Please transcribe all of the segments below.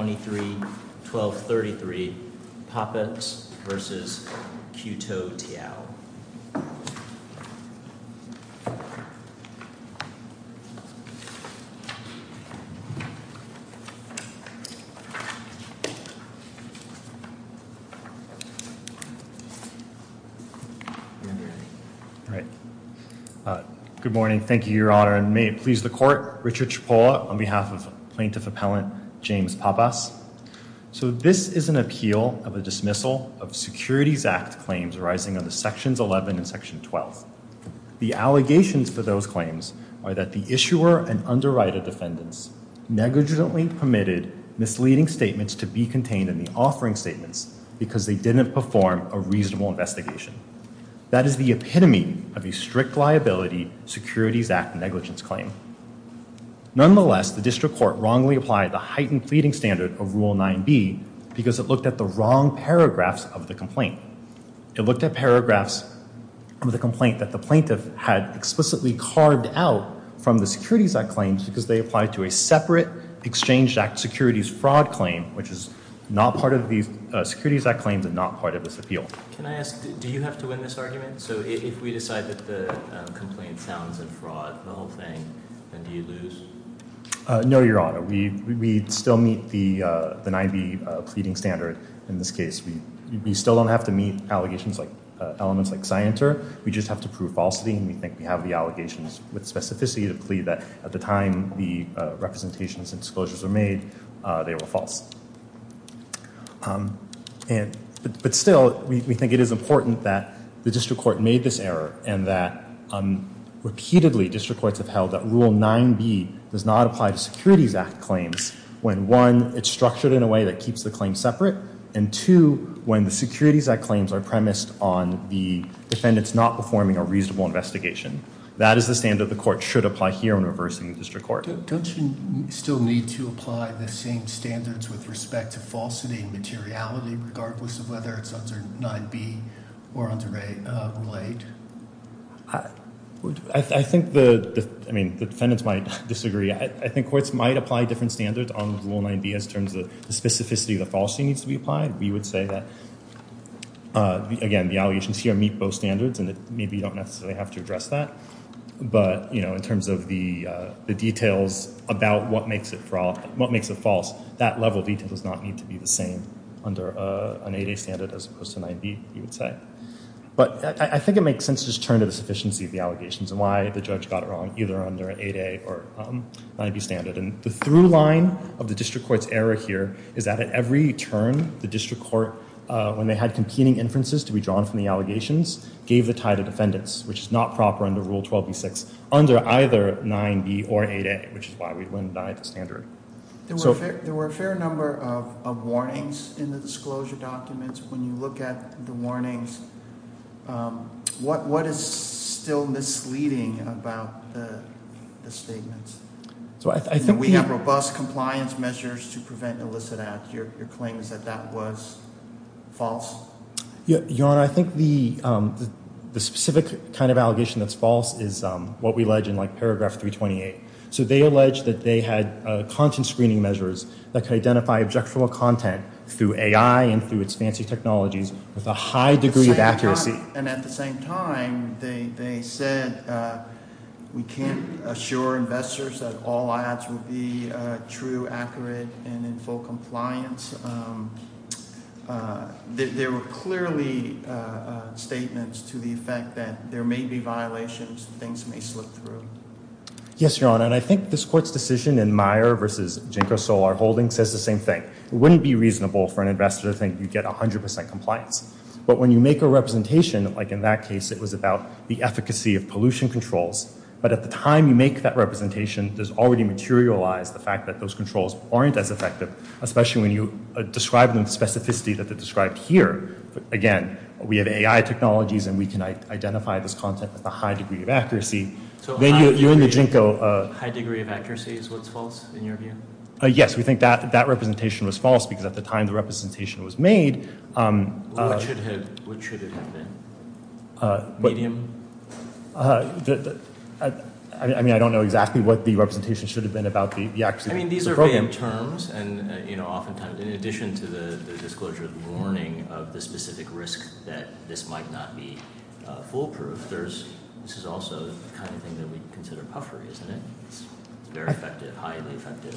23-12-33, Pappas v. QUTOUTIAO. Good morning. Thank you, Your Honor. And may it please the Court, Richard Cipolla on behalf of Plaintiff Appellant James Pappas. So this is an appeal of a dismissal of Securities Act claims arising on the Sections 11 and Section 12. The allegations for those claims are that the issuer and underwriter defendants negligently permitted misleading statements to be contained in the offering statements because they didn't perform a reasonable investigation. That is the epitome of a strict liability Securities Act negligence claim. Nonetheless, the District Court wrongly applied the heightened pleading standard of Rule 9b because it looked at the wrong paragraphs of the complaint. It looked at paragraphs of the complaint that the plaintiff had explicitly carved out from the Securities Act claims because they applied to a separate Exchange Act Securities Fraud claim, which is not part of the Securities Act claims and not part of this appeal. Can I ask, do you have to win this argument? So no, Your Honor. We still meet the 9b pleading standard in this case. We still don't have to meet allegations like elements like scienter. We just have to prove falsity and we think we have the allegations with specificity to plead that at the time the representations and disclosures were made, they were false. But still, we think it is important that the District Court made this error and that repeatedly District Courts have held that Rule 9b does not apply to Securities Act claims when, one, it's structured in a way that keeps the claim separate and, two, when the Securities Act claims are premised on the defendants not performing a reasonable investigation. That is the standard the Court should apply here when reversing the District Court. Don't you still need to apply the same standards with respect to falsity and materiality regardless of whether it's under 9b or under 8? I think the defendants might disagree. I think courts might apply different standards on Rule 9b in terms of the specificity of the falsity needs to be applied. We would say that, again, the allegations here meet both standards and maybe you don't necessarily have to address that. But in terms of the details about what makes it false, that level of detail does not need to be the same under an 8a standard as opposed to 9b, you would say. But I think it makes sense to just turn to the sufficiency of the allegations and why the judge got it wrong either under an 8a or 9b standard. And the through line of the District Court's error here is that at every turn, the District Court, when they had competing inferences to be drawn from the allegations, gave the tie to defendants, which is not proper under Rule 12b6, under either 9b or 8a, which is why we went by the standard. There were a fair number of warnings in the disclosure documents. When you look at the warnings, what is still misleading about the statements? We have robust compliance measures to prevent illicit acts. Your claim is that that was false? Your Honor, I think the specific kind of allegation that's false is what we allege in paragraph 328. So they allege that they had content screening measures that could identify objectual content through AI and through its fancy technologies with a high degree of accuracy. And at the same time, they said we can't assure investors that all ads would be true, accurate, and in full compliance. There were clearly statements to the effect that there may be violations, things may slip through. Yes, Your Honor, and I think this Court's decision in Meyer v. Ginkgo Solar Holdings says the same thing. It wouldn't be reasonable for an investor to think you'd get 100% compliance. But when you make a representation, like in that case, it was about the efficacy of pollution controls. But at the time you make that representation, there's already materialized the fact that those controls aren't as effective, especially when you describe the specificity that they described here. Again, we have AI technologies, and we can identify this content with a high degree of accuracy. So a high degree of accuracy is what's false, in your view? Yes, we think that representation was false, because at the time the representation was made. What should it have been? Medium? I mean, I don't know exactly what the representation should have been about the accuracy of the program. I mean, these are vague terms, and oftentimes, in addition to the disclosure of warning of the specific risk that this might not be foolproof, this is also the kind of thing that we consider puffery, isn't it? It's very effective, highly effective.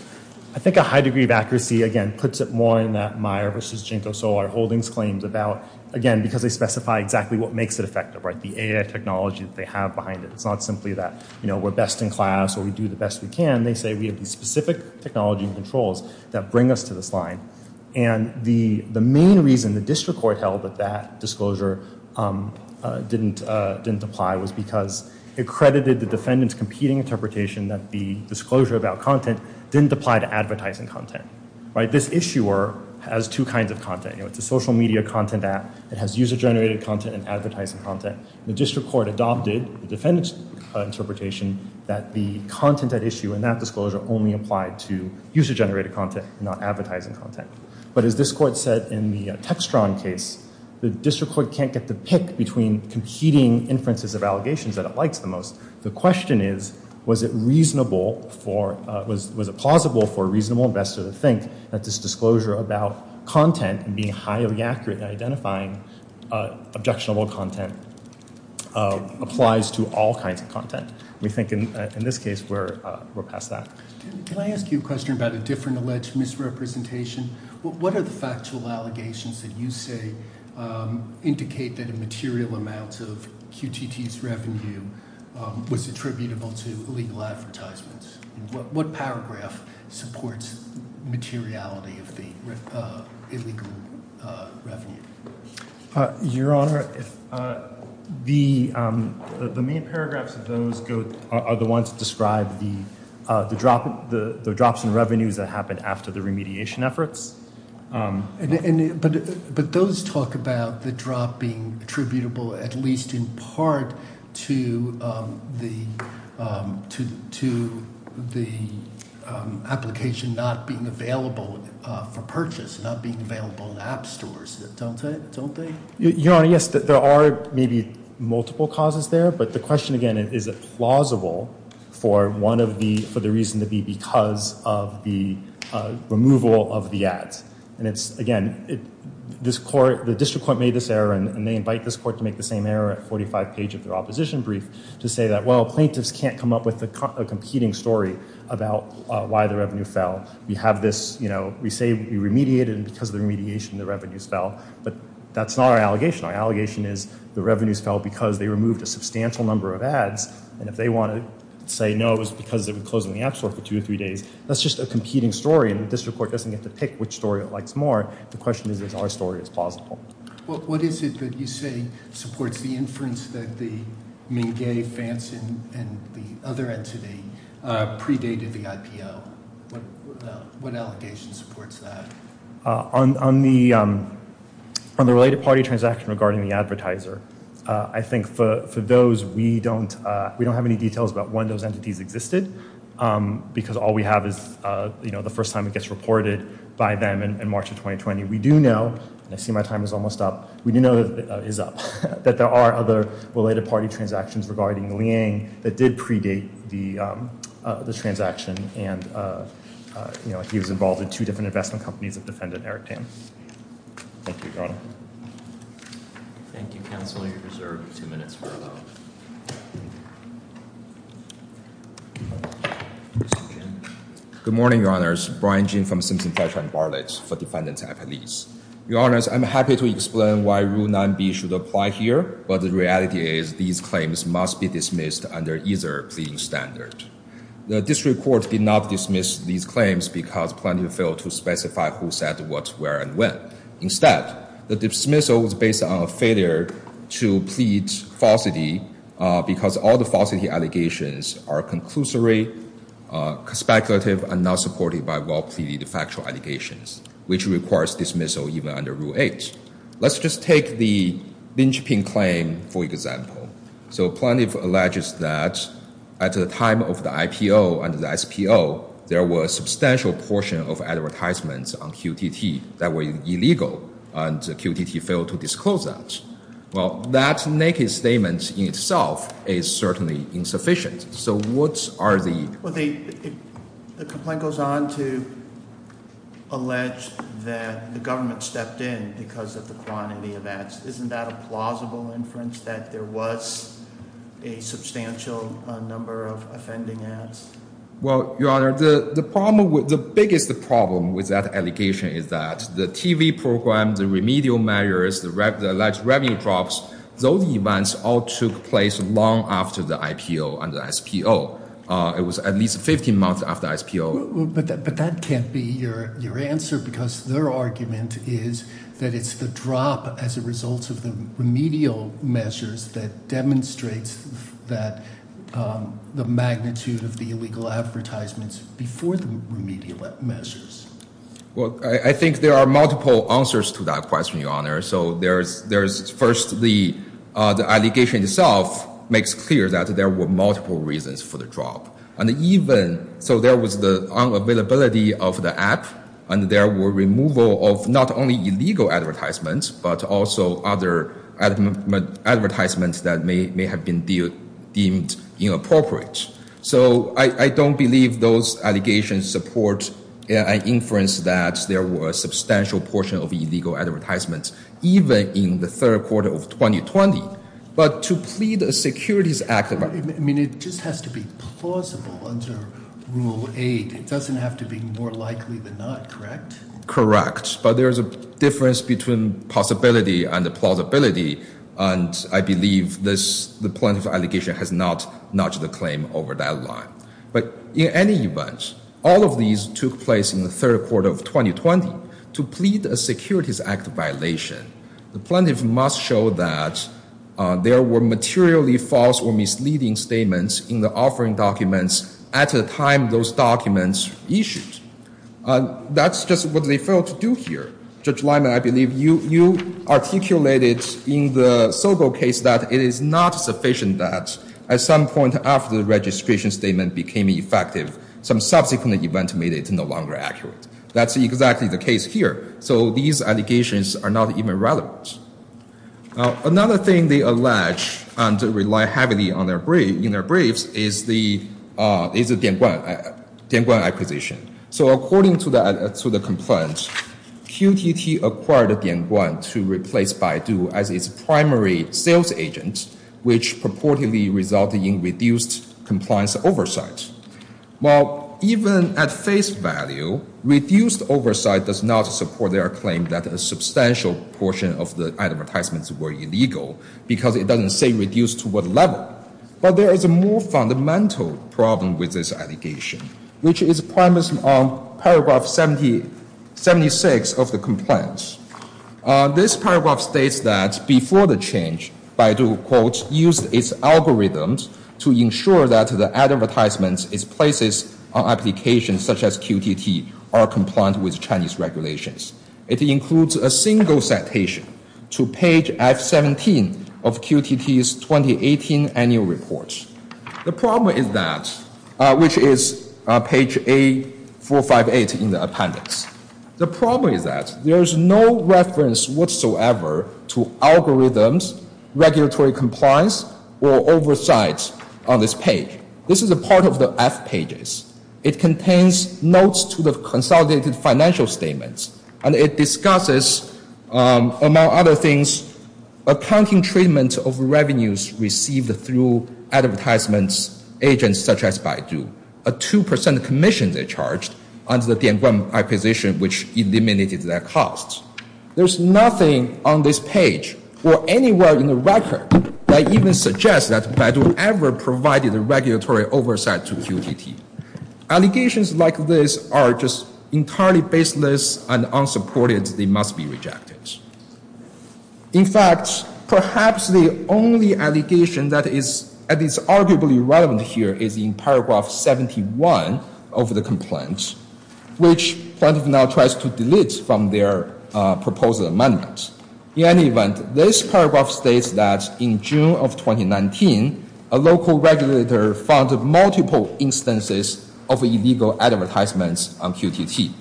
I think a high degree of accuracy, again, puts it more in that Meyer v. Ginkgo Solar Holdings claims about, again, because they specify exactly what makes it effective, right? The AI technology that they have behind it. It's not simply that we're best in class or we do the best we can. They say we have these The main reason the district court held that that disclosure didn't apply was because it credited the defendant's competing interpretation that the disclosure about content didn't apply to advertising content, right? This issuer has two kinds of content. It's a social media content app. It has user-generated content and advertising content. The district court adopted the defendant's interpretation that the content at issue in that disclosure only applied to user-generated content, not advertising content. But as this court said in the Textron case, the district court can't get the pick between competing inferences of allegations that it likes the most. The question is, was it reasonable for, was it plausible for a reasonable investor to think that this disclosure about content and being highly accurate in identifying objectionable content applies to all kinds of content? We think in this case we're past that. Can I ask you a question about a different alleged misrepresentation? What are the factual allegations that you say indicate that a material amount of QTT's revenue was attributable to illegal advertisements? What paragraph supports materiality of the illegal revenue? Your Honor, the main paragraphs of those are the ones that describe the drops in revenues that happened after the remediation efforts. But those talk about the drop being attributable, at least in part, to the application not being available for purchase, not being available in app stores. Don't they? Your Honor, yes, there are maybe multiple causes there, but the question again, is it plausible for one of the, for the reason to be because of the removal of the ads? And it's, again, this court, the district court made this error and they invite this court to make the same error at 45 page of their opposition brief to say that, well, plaintiffs can't come up with a competing story about why the revenue fell. We have this, you know, we say we remediated and because of the remediation the revenues fell, but that's not our allegation. Our allegation is the revenues fell because they removed a substantial number of ads and if they want to say no, it was because it would close in the app store for two or three days. That's just a competing story and the district court doesn't get to pick which story it likes more. The question is, is our story is plausible? Well, what is it that you say supports the inference that the Mingay, Fanson, and the other entity predated the IPO? What allegation supports that? On the related party transaction regarding the advertiser, I think for those, we don't have any details about when those entities existed because all we have is, you know, the first time it gets reported by them in March of 2020. We do know, and I see my time is almost up, we do know that is up, that there are other related party transactions regarding Liang that did predate the transaction and, you know, he was involved in two different investment companies of defendant Eric Tam. Thank you, Your Honor. Good morning, Your Honors. Brian Jin from Simpson-Fletcher & Barlett for defendant's affilies. Your Honors, I'm happy to explain why Rule 9b should apply here, but the reality is these claims must be dismissed under either pleading standard. The district court did not dismiss these claims because Plaintiff failed to specify who said what, where, and when. Instead, the dismissal was based on a failure to plead falsity because all the falsity allegations are conclusory, speculative, and not supported by well-pleaded factual allegations, which requires dismissal even under Rule 8. Let's just take the linchpin claim for example. So Plaintiff alleges that at the time of the IPO and the SPO, there was a substantial portion of advertisements on QTT that were illegal and QTT failed to disclose that. Well, that naked statement in itself is certainly insufficient. So what are the... Well, the complaint goes on to allege that the government stepped in because of the quantity of ads. Isn't that a plausible inference that there was a substantial number of offending ads? Well, Your Honor, the biggest problem with that allegation is that the TV program, the remedial measures, the alleged revenue drops, those events all took place long after the IPO and the SPO. It was at least 15 months after SPO. But that can't be your answer because their argument is that it's the drop as a result of the remedial measures that demonstrates the magnitude of the illegal advertisements before the remedial measures. Well, I think there are multiple answers to that question, Your Honor. So there's first the allegation itself makes clear that there were multiple reasons for the drop. And even... So there was the unavailability of the app and there were removal of not only illegal advertisements but also other advertisements that may have been deemed inappropriate. So I don't believe those allegations support an inference that there were a substantial portion of illegal advertisements even in the third quarter of 2020. But to plead a securities act... I mean, it just has to be plausible under Rule 8. It doesn't have to be more likely than not, correct? Correct. But there's a difference between possibility and plausibility. And I believe the plaintiff's allegation has not notched the claim over that line. But in any event, all of these took place in the third quarter of 2020 to plead a securities act violation. The plaintiff must show that there were materially false or misleading statements in the offering documents at a time those documents issued. That's just what they failed to do here. Judge Lyman, I believe you articulated in the Sobel case that it is not sufficient that at some point after the registration statement became effective, some subsequent event made it no longer accurate. That's exactly the case here. So these allegations are not even relevant. Another thing they allege and rely heavily on in their is the Dianguan acquisition. So according to the complaint, QTT acquired Dianguan to replace Baidu as its primary sales agent, which purportedly resulted in reduced compliance oversight. Well, even at face value, reduced oversight does not support their claim that a substantial portion of the advertisements were illegal because it doesn't say reduced to what But there is a more fundamental problem with this allegation, which is primacy on paragraph 76 of the complaint. This paragraph states that before the change, Baidu, quote, used its algorithms to ensure that the advertisements its places on applications such as QTT are compliant with regulations. It includes a single citation to page F17 of QTT's 2018 annual report. The problem is that, which is page A458 in the appendix. The problem is that there is no reference whatsoever to algorithms, regulatory compliance, or oversight on this page. This is a part of the F pages. It contains notes to the consolidated financial statements and it discusses, among other things, accounting treatment of revenues received through advertisements agents such as Baidu, a two percent commission they charged under the Dianguan acquisition, which eliminated their costs. There's nothing on this page or anywhere in the record that even suggests that Baidu ever provided a regulatory oversight to QTT. Allegations like this are just entirely baseless and unsupported. They must be rejected. In fact, perhaps the only allegation that is at least arguably relevant here is in paragraph 71 of the complaint, which point of now tries to delete from their proposed amendments. In any event, this paragraph states that in June of 2019, a local regulator found multiple instances of illegal advertisements on QTT.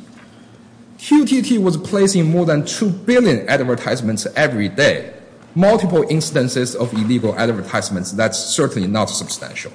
QTT was placing more than two billion advertisements every day. Multiple instances of illegal advertisements, that's certainly not substantial.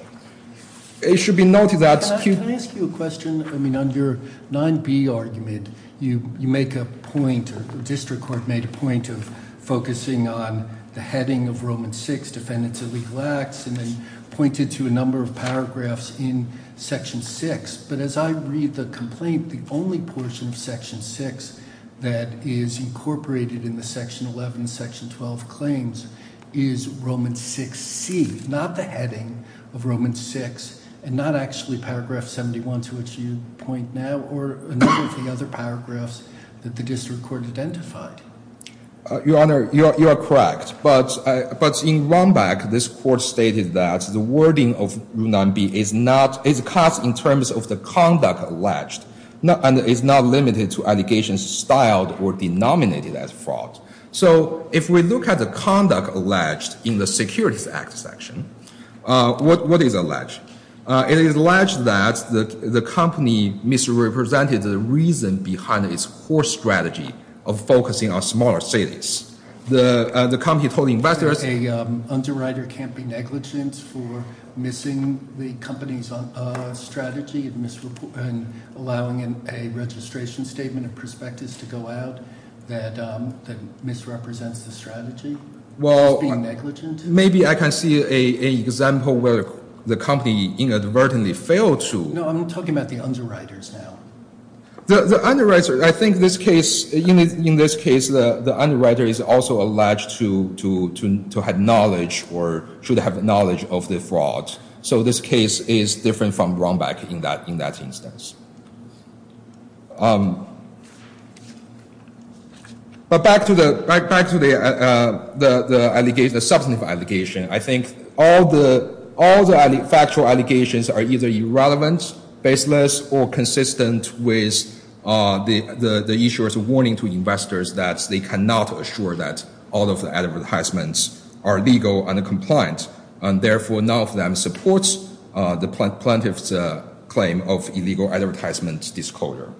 It should be noted that... Can I ask you a question? I mean, under 9b argument, you make a point, the district court made a point of focusing on the heading of Roman 6, Defendants of Illegal Acts, and then pointed to a number of paragraphs in section 6. But as I read the complaint, the only portion of section 6 that is incorporated in the section 11, section 12 claims is Roman 6c, not the heading of Roman 6, and not actually paragraph 71 to which you point now, or a number of the other paragraphs that the district court identified. Your Honor, you are correct. But in Rombach, this court stated that the wording of 9b is not... is cut in terms of the conduct alleged, and is not limited to allegations styled or denominated as fraud. So if we look at the conduct alleged in the Securities Act section, what is alleged? It is alleged that the company misrepresented the reason behind its poor strategy of focusing on smaller cities. The company told the investors... A underwriter can't be negligent for missing the company's strategy and allowing a registration statement of prospectus to go out that misrepresents the strategy? Well, maybe I can see an example where the company inadvertently failed to... No, I'm talking about the underwriters now. The underwriter, I think this case, in this case, the underwriter is also alleged to have knowledge or should have knowledge of the fraud. So this case is different from Rombach in that instance. But back to the... back to the allegation, the substantive allegation, I think all the... all the factual allegations are either irrelevant, baseless, or consistent with the issuer's warning to investors that they cannot assure that all of the advertisements are legal and compliant. And therefore, none of them supports the plaintiff's claim of illegal advertisements disclosure.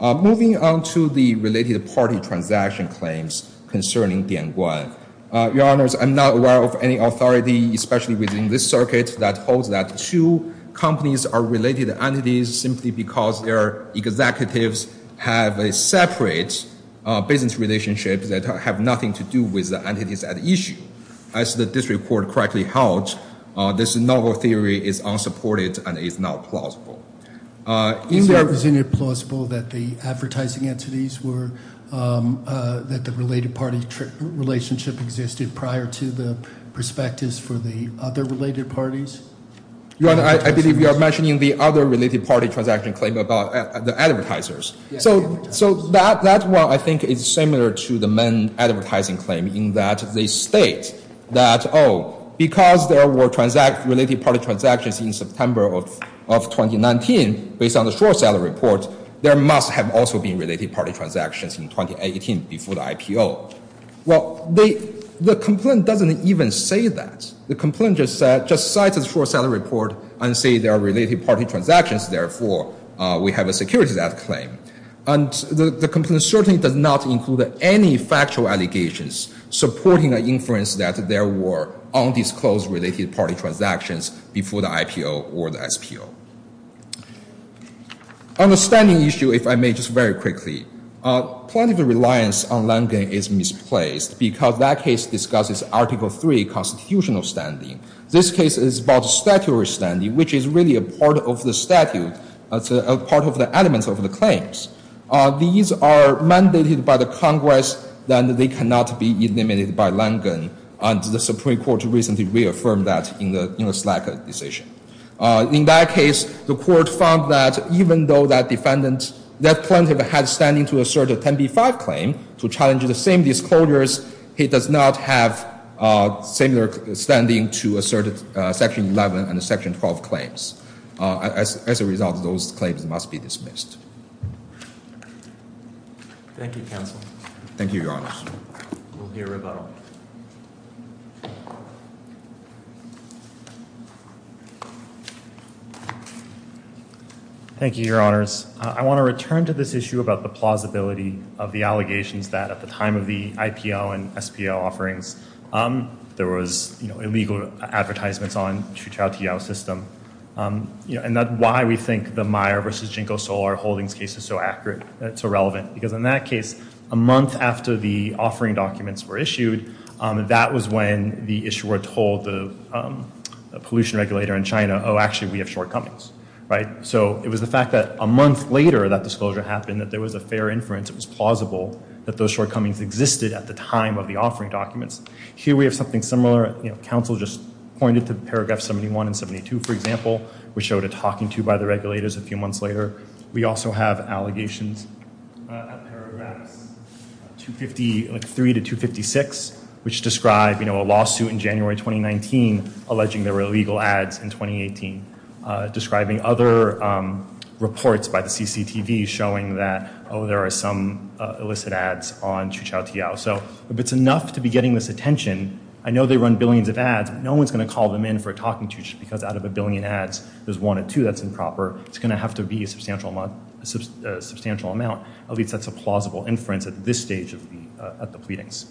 Moving on to the related party transaction claims concerning Your honors, I'm not aware of any authority, especially within this circuit, that holds that two companies are related entities simply because their executives have a separate business relationship that have nothing to do with the entities at issue. As the district court correctly held, this novel theory is unsupported and is not plausible. Is it plausible that the advertising entities were... that the related party relationship existed prior to the prospectus for the other related parties? Your honor, I believe you are mentioning the other related party transaction claim about the advertisers. So that one, I think, is similar to the main advertising claim in that they state that, oh, because there were transact... related party transactions in September of 2019, based on the short-sale report, there must have also been related party transactions in 2018 before the IPO. Well, the complaint doesn't even say that. The complaint just says... just cites the short-sale report and say there are related party transactions. Therefore, we have a security that claim. And the complaint certainly does not include any factual allegations supporting an inference that there were undisclosed related party transactions before the IPO or the SPO. On the standing issue, if I may, just very quickly. Plenty of reliance on Langen is misplaced because that case discusses Article 3 constitutional standing. This case is about statutory standing, which is really a part of the statute, a part of the elements of the claims. These are mandated by the Congress, then they cannot be eliminated by Langen, and the Supreme Court recently reaffirmed that in the Slack decision. In that case, the court found that even though that defendant, that plaintiff had standing to assert a 10b-5 claim to challenge the same disclosures, he does not have similar standing to assert Section 11 and Section 12 claims. As a result, those claims must be dismissed. Thank you, Your Honors. I want to return to this issue about the plausibility of the allegations that at the time of the IPO and SPO offerings, there was illegal advertisements on the Chitrao-Tiao system. That's why we think the Meyer versus Jinko-Solar holdings case is so accurate, so relevant, because in that case, a month after the offering documents were issued, that was when the issuer told the pollution regulator in China, oh, actually, we have shortcomings. It was the fact that a month later that disclosure happened, that there was a fair inference, it was plausible that those shortcomings existed at the time of the offering documents. Here, we have something similar. Council just pointed to Paragraph 71 and 72, for example, which showed a talking to by the regulators a few months later. We also have allegations at Paragraphs 253 to 256, which describe a lawsuit in January 2019 alleging there were illegal ads in 2018, describing other reports by the CCTV showing that, oh, there are some illicit ads on Chitrao-Tiao. So if it's enough to be getting this attention, I know they run billions of ads, but no one's going to call them in for a talking to just because out of a billion ads, there's one or two that's improper. It's going to have to be a substantial amount, at least that's a plausible inference at this stage of the pleadings.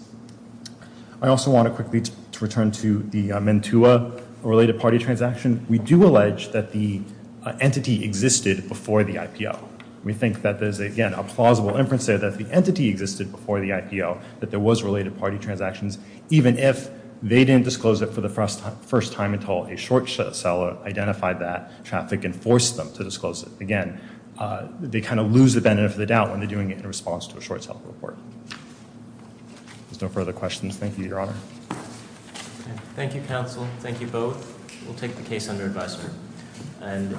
I also want to quickly return to the Mentua-related party transaction. We do allege that the entity existed before the IPO. We think that there's, again, a plausible inference there that the entity existed before the IPO, that there was related party transactions, even if they didn't disclose it for the first time until a short seller identified that traffic and forced them to disclose it. Again, they kind of lose the benefit of the doubt when they're doing it in response to a short seller report. There's no further questions. Thank you, Your Honor. Thank you, counsel. Thank you both. We'll take the case under advisory.